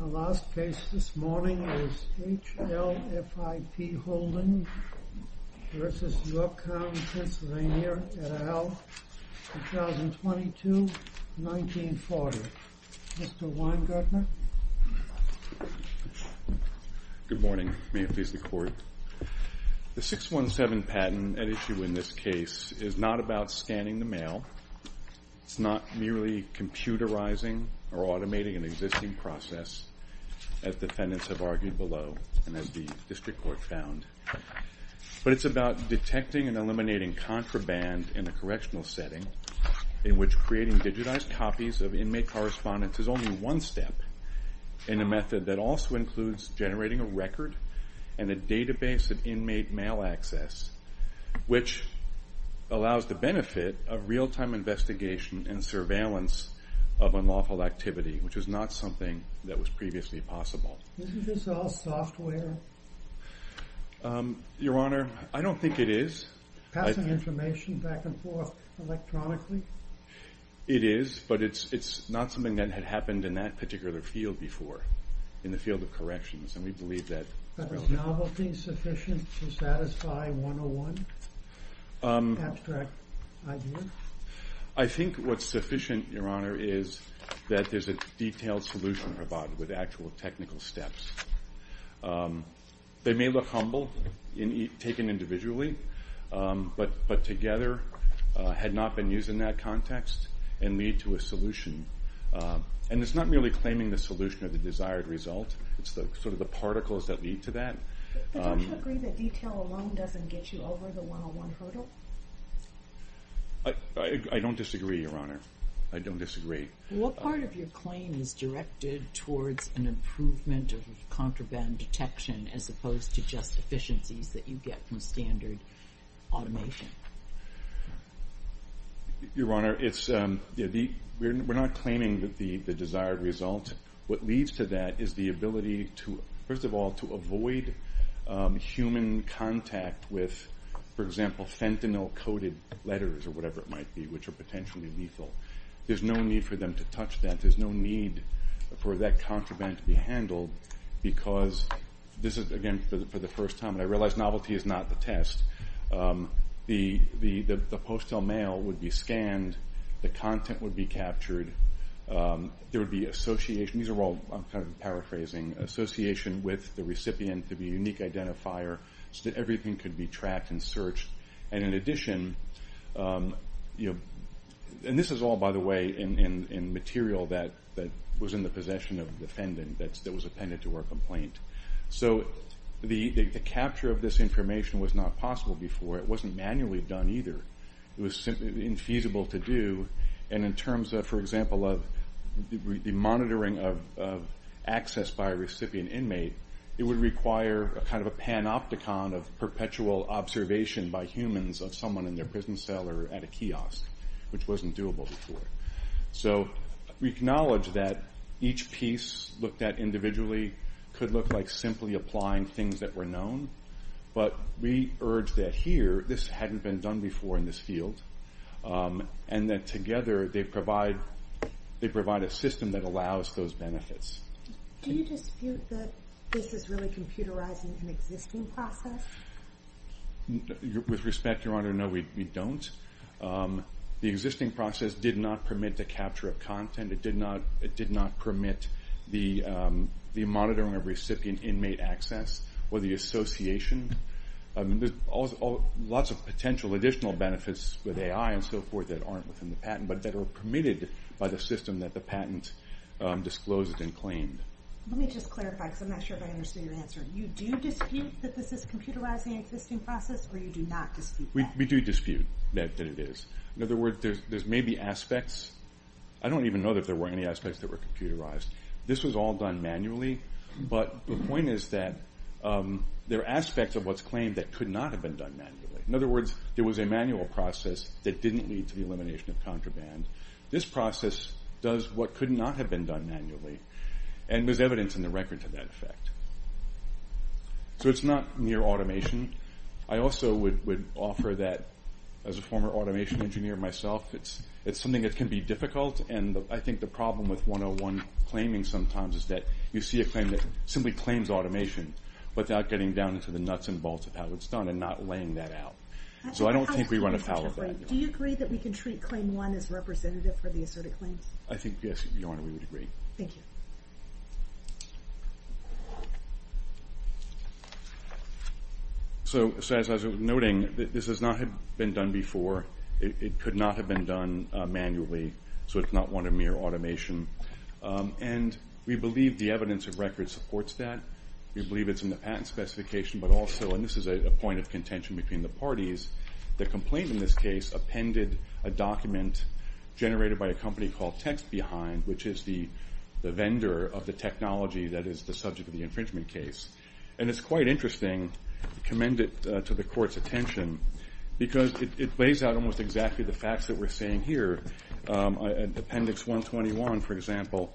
Our last case this morning is HLFIP Holding v. York County, PA et al., 2022-1940. Mr. Weingartner. Good morning. May it please the Court. The 617 patent at issue in this case is not about scanning the mail. It's not merely computerizing or automating an existing process, as defendants have argued below and as the District Court found. But it's about detecting and eliminating contraband in a correctional setting in which creating digitized copies of inmate correspondence is only one step in a method that also includes generating a record and a database of inmate mail access, which allows the benefit of real-time investigation and surveillance of unlawful activity, which was not something that was previously possible. Isn't this all software? Your Honor, I don't think it is. Passing information back and forth electronically? It is, but it's not something that had happened in that particular field before, in the field of corrections, and we believe that... But is novelty sufficient to satisfy 101? Abstract idea? I think what's sufficient, Your Honor, is that there's a detailed solution provided with actual technical steps. They may look humble, taken individually, but together had not been used in that context and lead to a solution. And it's not merely claiming the desired result, it's the particles that lead to that. But don't you agree that detail alone doesn't get you over the 101 hurdle? I don't disagree, Your Honor. I don't disagree. What part of your claim is directed towards an improvement of contraband detection as opposed to just efficiencies that you get from standard automation? Your Honor, we're not claiming the details. What leads to that is the ability to, first of all, to avoid human contact with, for example, fentanyl coated letters or whatever it might be, which are potentially lethal. There's no need for them to touch that. There's no need for that contraband to be handled because this is, again, for the first time, and I realize novelty is not the test, the postal mail would be scanned, the content would be captured, there would be association. These are all, I'm kind of paraphrasing, association with the recipient to be a unique identifier so that everything could be tracked and searched. And in addition, and this is all, by the way, in material that was in the possession of the defendant that was appended to her complaint. So the capture of this information was not possible before. It wasn't manually done either. It was simply infeasible to do. And in terms of, for example, of the monitoring of access by a recipient inmate, it would require a kind of a panopticon of perpetual observation by humans of someone in their prison cell or at a kiosk, which wasn't doable before. So we acknowledge that each piece looked at individually could look like simply applying things that were known, but we urge that here, this hadn't been done before in this field, and that together they provide a system that allows those benefits. Do you dispute that this is really computerizing an existing process? With respect, Your Honor, no, we don't. The existing process did not permit the capture of content. It did not permit the monitoring of recipient inmate access or the association. Lots of potential additional benefits with AI and so forth that aren't within the patent, but that are permitted by the system that the patent disclosed and claimed. Let me just clarify, because I'm not sure if I understood your answer. You do dispute that this is computerizing an existing process, or you do not dispute that? We do dispute that it is. In other words, there's maybe aspects. I don't even know if there were any aspects that were computerized. This was all done manually, but the point is that there are aspects of what's claimed that could not have been done manually. In other words, there was a manual process that didn't lead to the elimination of contraband. This process does what could not have been done manually, and there's evidence in the As a former automation engineer myself, it's something that can be difficult, and I think the problem with 101 claiming sometimes is that you see a claim that simply claims automation without getting down into the nuts and bolts of how it's done and not laying that out. So I don't think we run afoul of that. Do you agree that we can treat Claim 1 as representative for the asserted claims? I think, yes, Your Honor, we would agree. Thank you. So as I was noting, this has not been done before. It could not have been done manually, so it's not one of mere automation, and we believe the evidence of record supports that. We believe it's in the patent specification, but also, and this is a point of contention between the parties, the complaint in this case appended a document generated by a company called Text Behind, which is the vendor of the technology that is the subject of the infringement case. And it's quite interesting, commend it to the Court's attention, because it lays out almost exactly the facts that we're seeing here. Appendix 121, for example,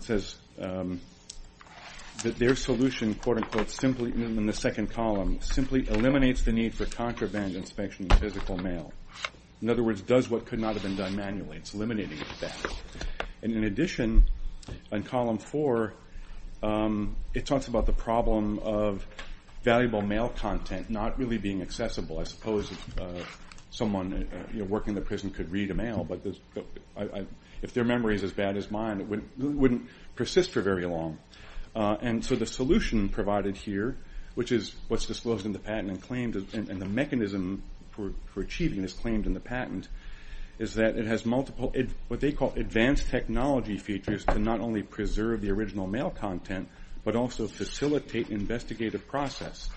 says that their solution, quote unquote, in the second column, simply eliminates the need for contraband inspection in physical mail. In other words, does what could not have been done manually. It's eliminating that. And in addition, in column four, it talks about the problem of valuable mail content not really being accessible. I suppose someone working in the prison could read a mail, but if their memory is as bad as mine, it wouldn't persist for very long. And so the solution provided here, which is what's disclosed in the patent and the mechanism for achieving this claim in the patent, is that it has what they call advanced technology features to not only preserve the original mail content, but also facilitate investigative process.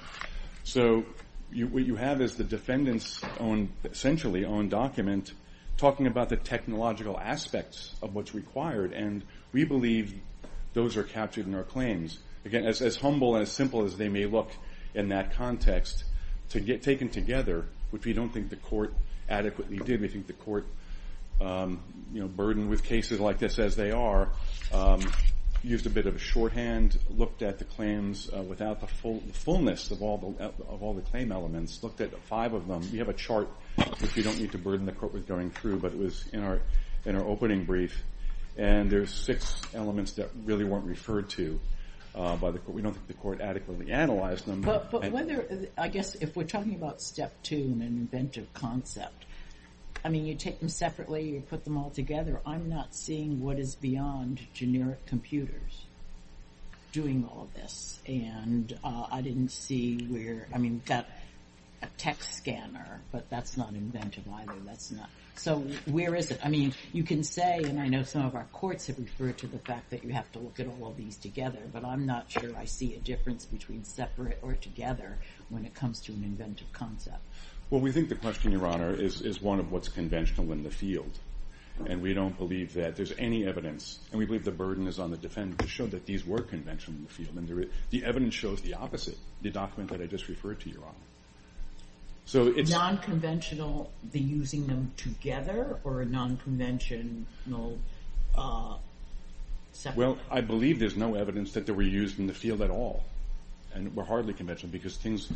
So what you have is the defendant's essentially own document talking about the technological aspects of what's as simple as they may look in that context, taken together, which we don't think the Court adequately did. We think the Court burdened with cases like this as they are, used a bit of a shorthand, looked at the claims without the fullness of all the claim elements, looked at five of them. We have a chart, which we don't need to burden the Court with going through, but it was in our opening brief. And there's six elements that really weren't referred to by the Court. We don't think the Court adequately analyzed them. But whether, I guess if we're talking about step two, an inventive concept, I mean, you take them separately, you put them all together. I'm not seeing what is beyond generic computers doing all of this. And I didn't see where, I mean, got a text scanner, but that's not inventive either. That's not. So where is it? I mean, you can say, and I know some of our courts have referred to the fact that you have to look at all of these together, but I'm not sure I see a difference between separate or together when it comes to an inventive concept. Well, we think the question, Your Honor, is one of what's conventional in the field. And we don't believe that there's any evidence. And we believe the burden is on the defendant to show that these were conventional in the field. And the evidence shows the opposite, the document that I just referred to, Your Honor. Non-conventional, the using them together, or a non-conventional separate? Well, I believe there's no evidence that they were used in the field at all. And were hardly conventional, because things,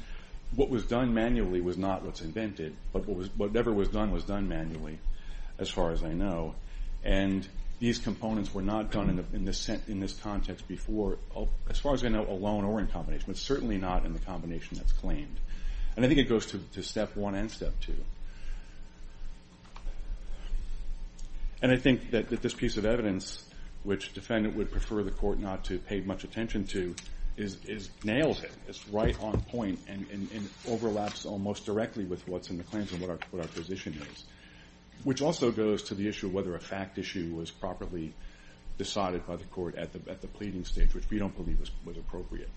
what was done manually was not what's invented. But whatever was done was done manually, as far as I know. And these components were not done in this context before, as far as I know, alone or in combination, but certainly not in the combination that's claimed. And I think it goes to step one and step two. And I think that this piece of evidence, which defendant would prefer the court not to pay much attention to, nails it. It's right on point and overlaps almost directly with what's in the claims and what our position is. Which also goes to the issue of whether a fact issue was properly decided by the court at the pleading stage, which we don't believe was appropriate.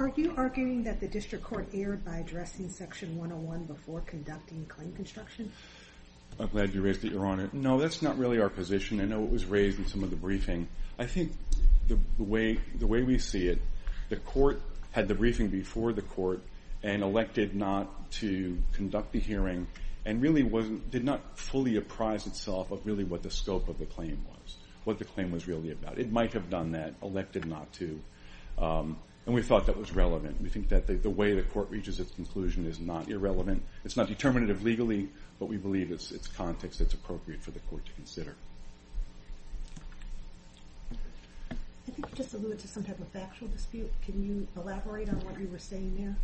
Are you arguing that the district court erred by addressing Section 101 before conducting claim construction? I'm glad you raised that, Your Honor. No, that's not really our position. I know it was raised in some of the briefing. I think the way we see it, the court had the briefing before the court, and elected not to conduct the hearing, and really did not fully apprise itself of really what the scope of the claim was, what the claim was really about. It might have done that, elected not to. And we thought that was relevant. We think that the way the court reaches its conclusion is not irrelevant. It's not determinative legally, but we believe it's context that's appropriate for the court to consider. I think you just alluded to some type of factual dispute. Can you elaborate on what you were saying there?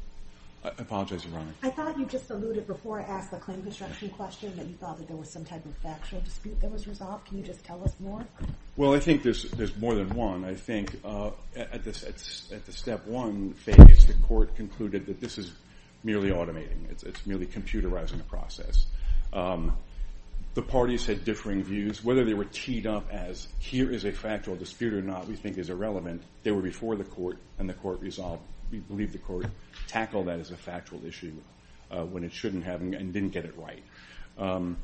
I apologize, Your Honor. I thought you just alluded before I asked the claim construction question that you thought that there was some type of factual dispute that was resolved. Can you just tell us more? Well, I think there's more than one. I think at the step one phase, the court concluded that this is merely automating. It's merely computerizing the process. The parties had differing views. Whether they were teed up as here is a factual dispute or not, we think is irrelevant. They were before the court, and the court resolved. We believe the court tackled that as a factual issue when it shouldn't have, and didn't get it right.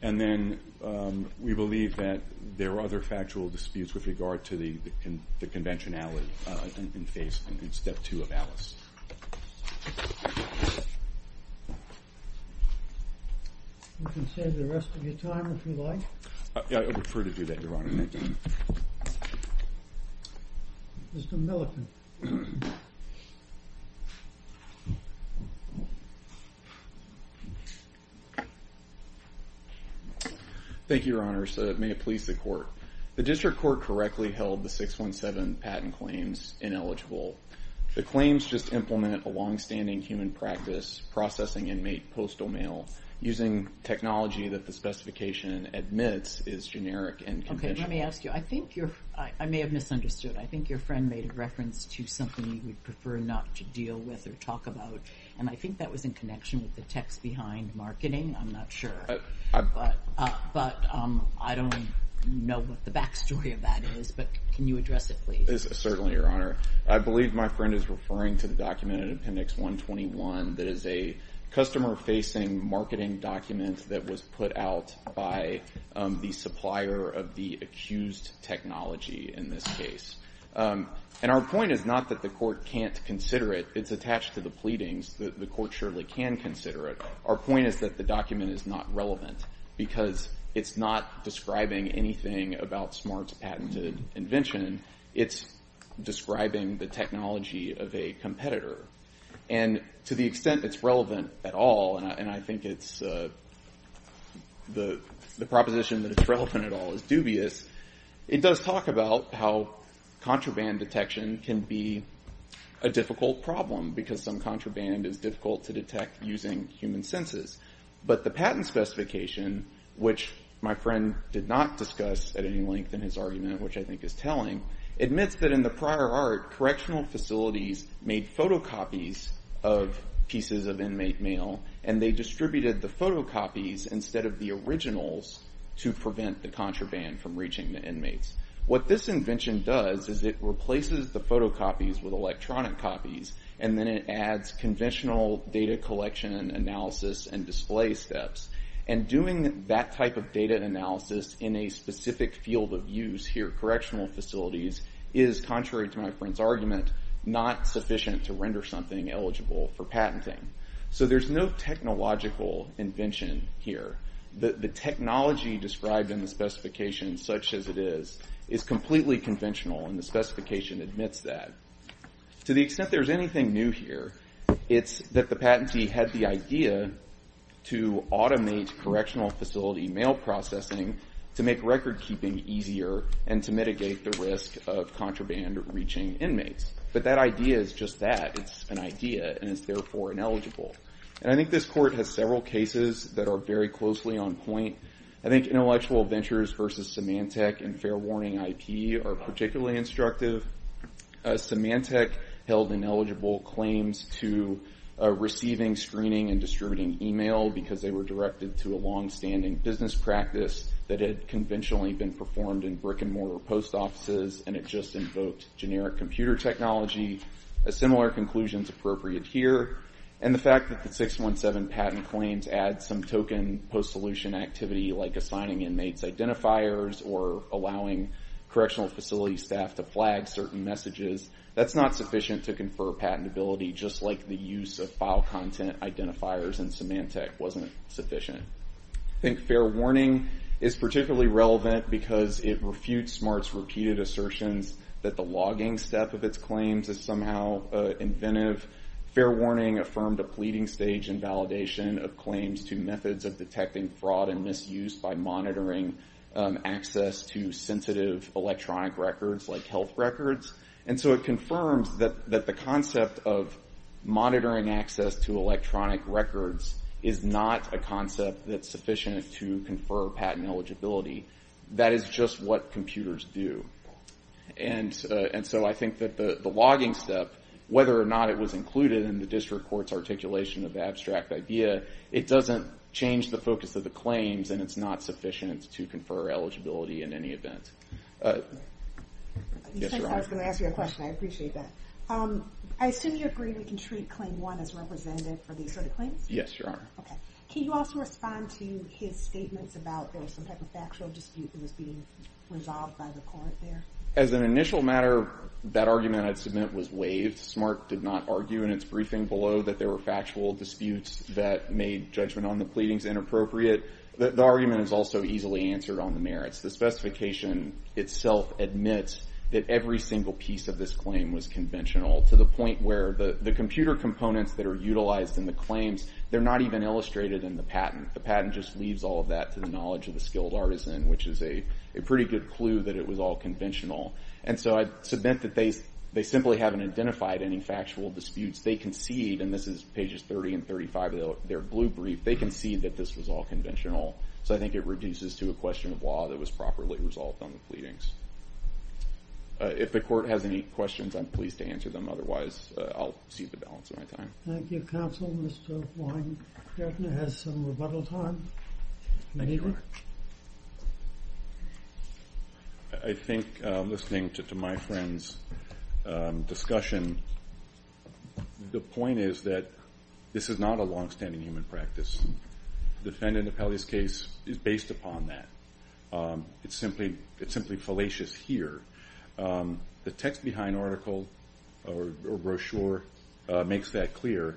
And then we believe that there are other factual disputes with regard to the conventionality in phase two of Alice. You can save the rest of your time, if you like. I prefer to do that, Your Honor. Thank you. Mr. Millikin. Thank you, Your Honor. May it please the court. The district court correctly held the 617 patent claims ineligible. The claims just implement a longstanding human practice, processing inmate postal mail using technology that the specification admits is generic and conventional. Okay, let me ask you. I may have misunderstood. I think your friend made a reference to something you would in connection with the text behind marketing. I'm not sure. But I don't know what the backstory of that is. But can you address it, please? Certainly, Your Honor. I believe my friend is referring to the document in appendix 121 that is a customer-facing marketing document that was put out by the supplier of the accused technology in this case. And our point is not that the court can't consider it. It's attached to the pleadings. The court surely can consider it. Our point is that the document is not relevant because it's not describing anything about Smart's patented invention. It's describing the technology of a competitor. And to the extent it's relevant at all, and I think the proposition that it's relevant at all is dubious, it does talk about how contraband detection can be a difficult problem because some contraband is difficult to detect using human senses. But the patent specification, which my friend did not discuss at any length in his argument, which I think is telling, admits that in the prior art, correctional facilities made photocopies of pieces of inmate mail and they distributed the photocopies instead of the photocopies with electronic copies and then it adds conventional data collection analysis and display steps. And doing that type of data analysis in a specific field of use here, correctional facilities, is contrary to my friend's argument, not sufficient to render something eligible for patenting. So there's no technological invention here. The technology described in the specification admits that. To the extent there's anything new here, it's that the patentee had the idea to automate correctional facility mail processing to make record keeping easier and to mitigate the risk of contraband reaching inmates. But that idea is just that. It's an idea and it's therefore ineligible. And I think this court has several cases that are very closely on point. I think intellectual ventures versus Symantec and fair warning IP are particularly instructive. Symantec held ineligible claims to receiving screening and distributing email because they were directed to a long-standing business practice that had conventionally been performed in brick and mortar post offices and it just invoked generic computer technology. A similar conclusion is appropriate here. And the fact that the 617 patent claims add some token post-solution activity like assigning inmates identifiers or allowing correctional facility staff to flag certain messages, that's not sufficient to confer patentability just like the use of file content identifiers in Symantec wasn't sufficient. I think fair warning is particularly relevant because it refutes SMART's repeated assertions that the logging step of its claims is somehow inventive. Fair warning affirmed a pleading stage in validation of claims to methods of detecting fraud and misuse by monitoring access to sensitive electronic records like health records. And so it confirms that the concept of monitoring access to electronic records is not a concept that's sufficient to confer patent eligibility. That is just what computers do. And so I think that the logging step, whether or not it was included in the district court's articulation of the abstract idea, it doesn't change the focus of the claims and it's not sufficient to confer eligibility in any event. Yes, your honor. I was going to ask you a question. I appreciate that. I assume you agree we can treat claim one as representative for these sort of claims? Yes, your honor. Okay. Can you also respond to his statements about there was some type of factual dispute that was being resolved by the court there? As an initial matter, that argument I'd submit was waived. SMART did not argue in its briefing below that there were factual disputes that made judgment on the pleadings inappropriate. The argument is also easily answered on the merits. The specification itself admits that every single piece of this claim was conventional to the point where the computer components that are utilized in the claims, they're not even illustrated in the patent. The patent just leaves all of that to the knowledge of the skilled artisan, which is a pretty good clue that it was all conventional. And so I'd submit that they simply haven't identified any factual disputes. They concede, and this is pages 30 and 35 of their blue brief, they concede that this was all conventional. So I think it reduces to a question of law that was properly resolved on the pleadings. If the court has any questions, I'm pleased to answer them. Otherwise, I'll cede the balance of my time. Thank you, counsel. Mr. Weingartner has some rebuttal time. I think listening to my friend's discussion, the point is that this is not a long-standing human practice. The Fenn and Napelli's case is based upon that. It's simply fallacious here. The text behind article or brochure makes that clear.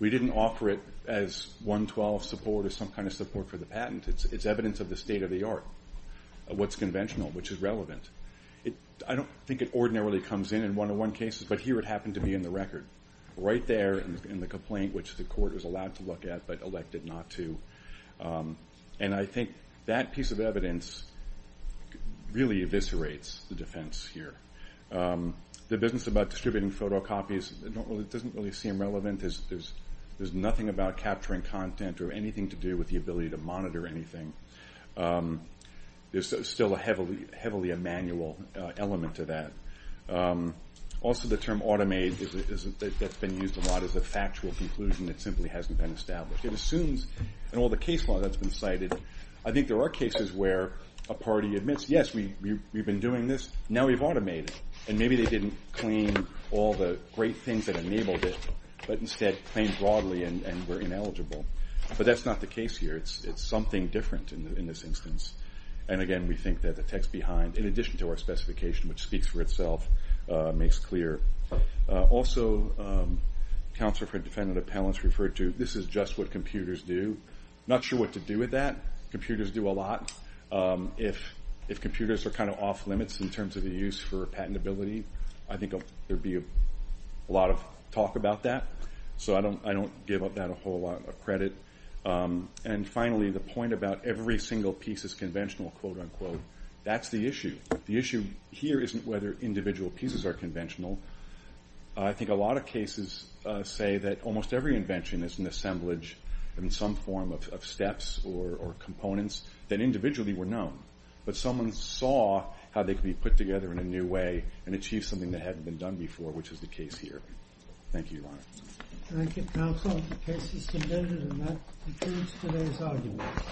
We didn't offer it as 112 support or some kind of support for the patent. It's evidence of the state of the art of what's conventional, which is relevant. I don't think it ordinarily comes in in one-on-one cases, but here it happened to be in the record, right there in the complaint, which the court was allowed to look at but elected not to. And I think that piece of evidence really eviscerates the defense here. The business about distributing photocopies doesn't really seem relevant. There's nothing about capturing content or anything to do with the ability to monitor anything. There's still heavily a manual element to that. Also, the term automate that's been used a lot is a factual conclusion that simply and all the case law that's been cited. I think there are cases where a party admits, yes, we've been doing this, now we've automated. And maybe they didn't claim all the great things that enabled it, but instead claimed broadly and were ineligible. But that's not the case here. It's something different in this instance. And again, we think that the text behind, in addition to our specification, which speaks for itself, makes clear. Also, counsel for defendant appellants referred to, this is just what computers do. Not sure what to do with that. Computers do a lot. If computers are kind of off limits in terms of the use for patentability, I think there'd be a lot of talk about that. So I don't give that a whole lot of credit. And finally, the point about every single piece is conventional, quote unquote, that's the issue. The issue here isn't whether individual pieces are in some form of steps or components that individually were known, but someone saw how they could be put together in a new way and achieve something that hadn't been done before, which is the case here. Thank you, Your Honor. Thank you, counsel. The case is submitted and that concludes today's argument.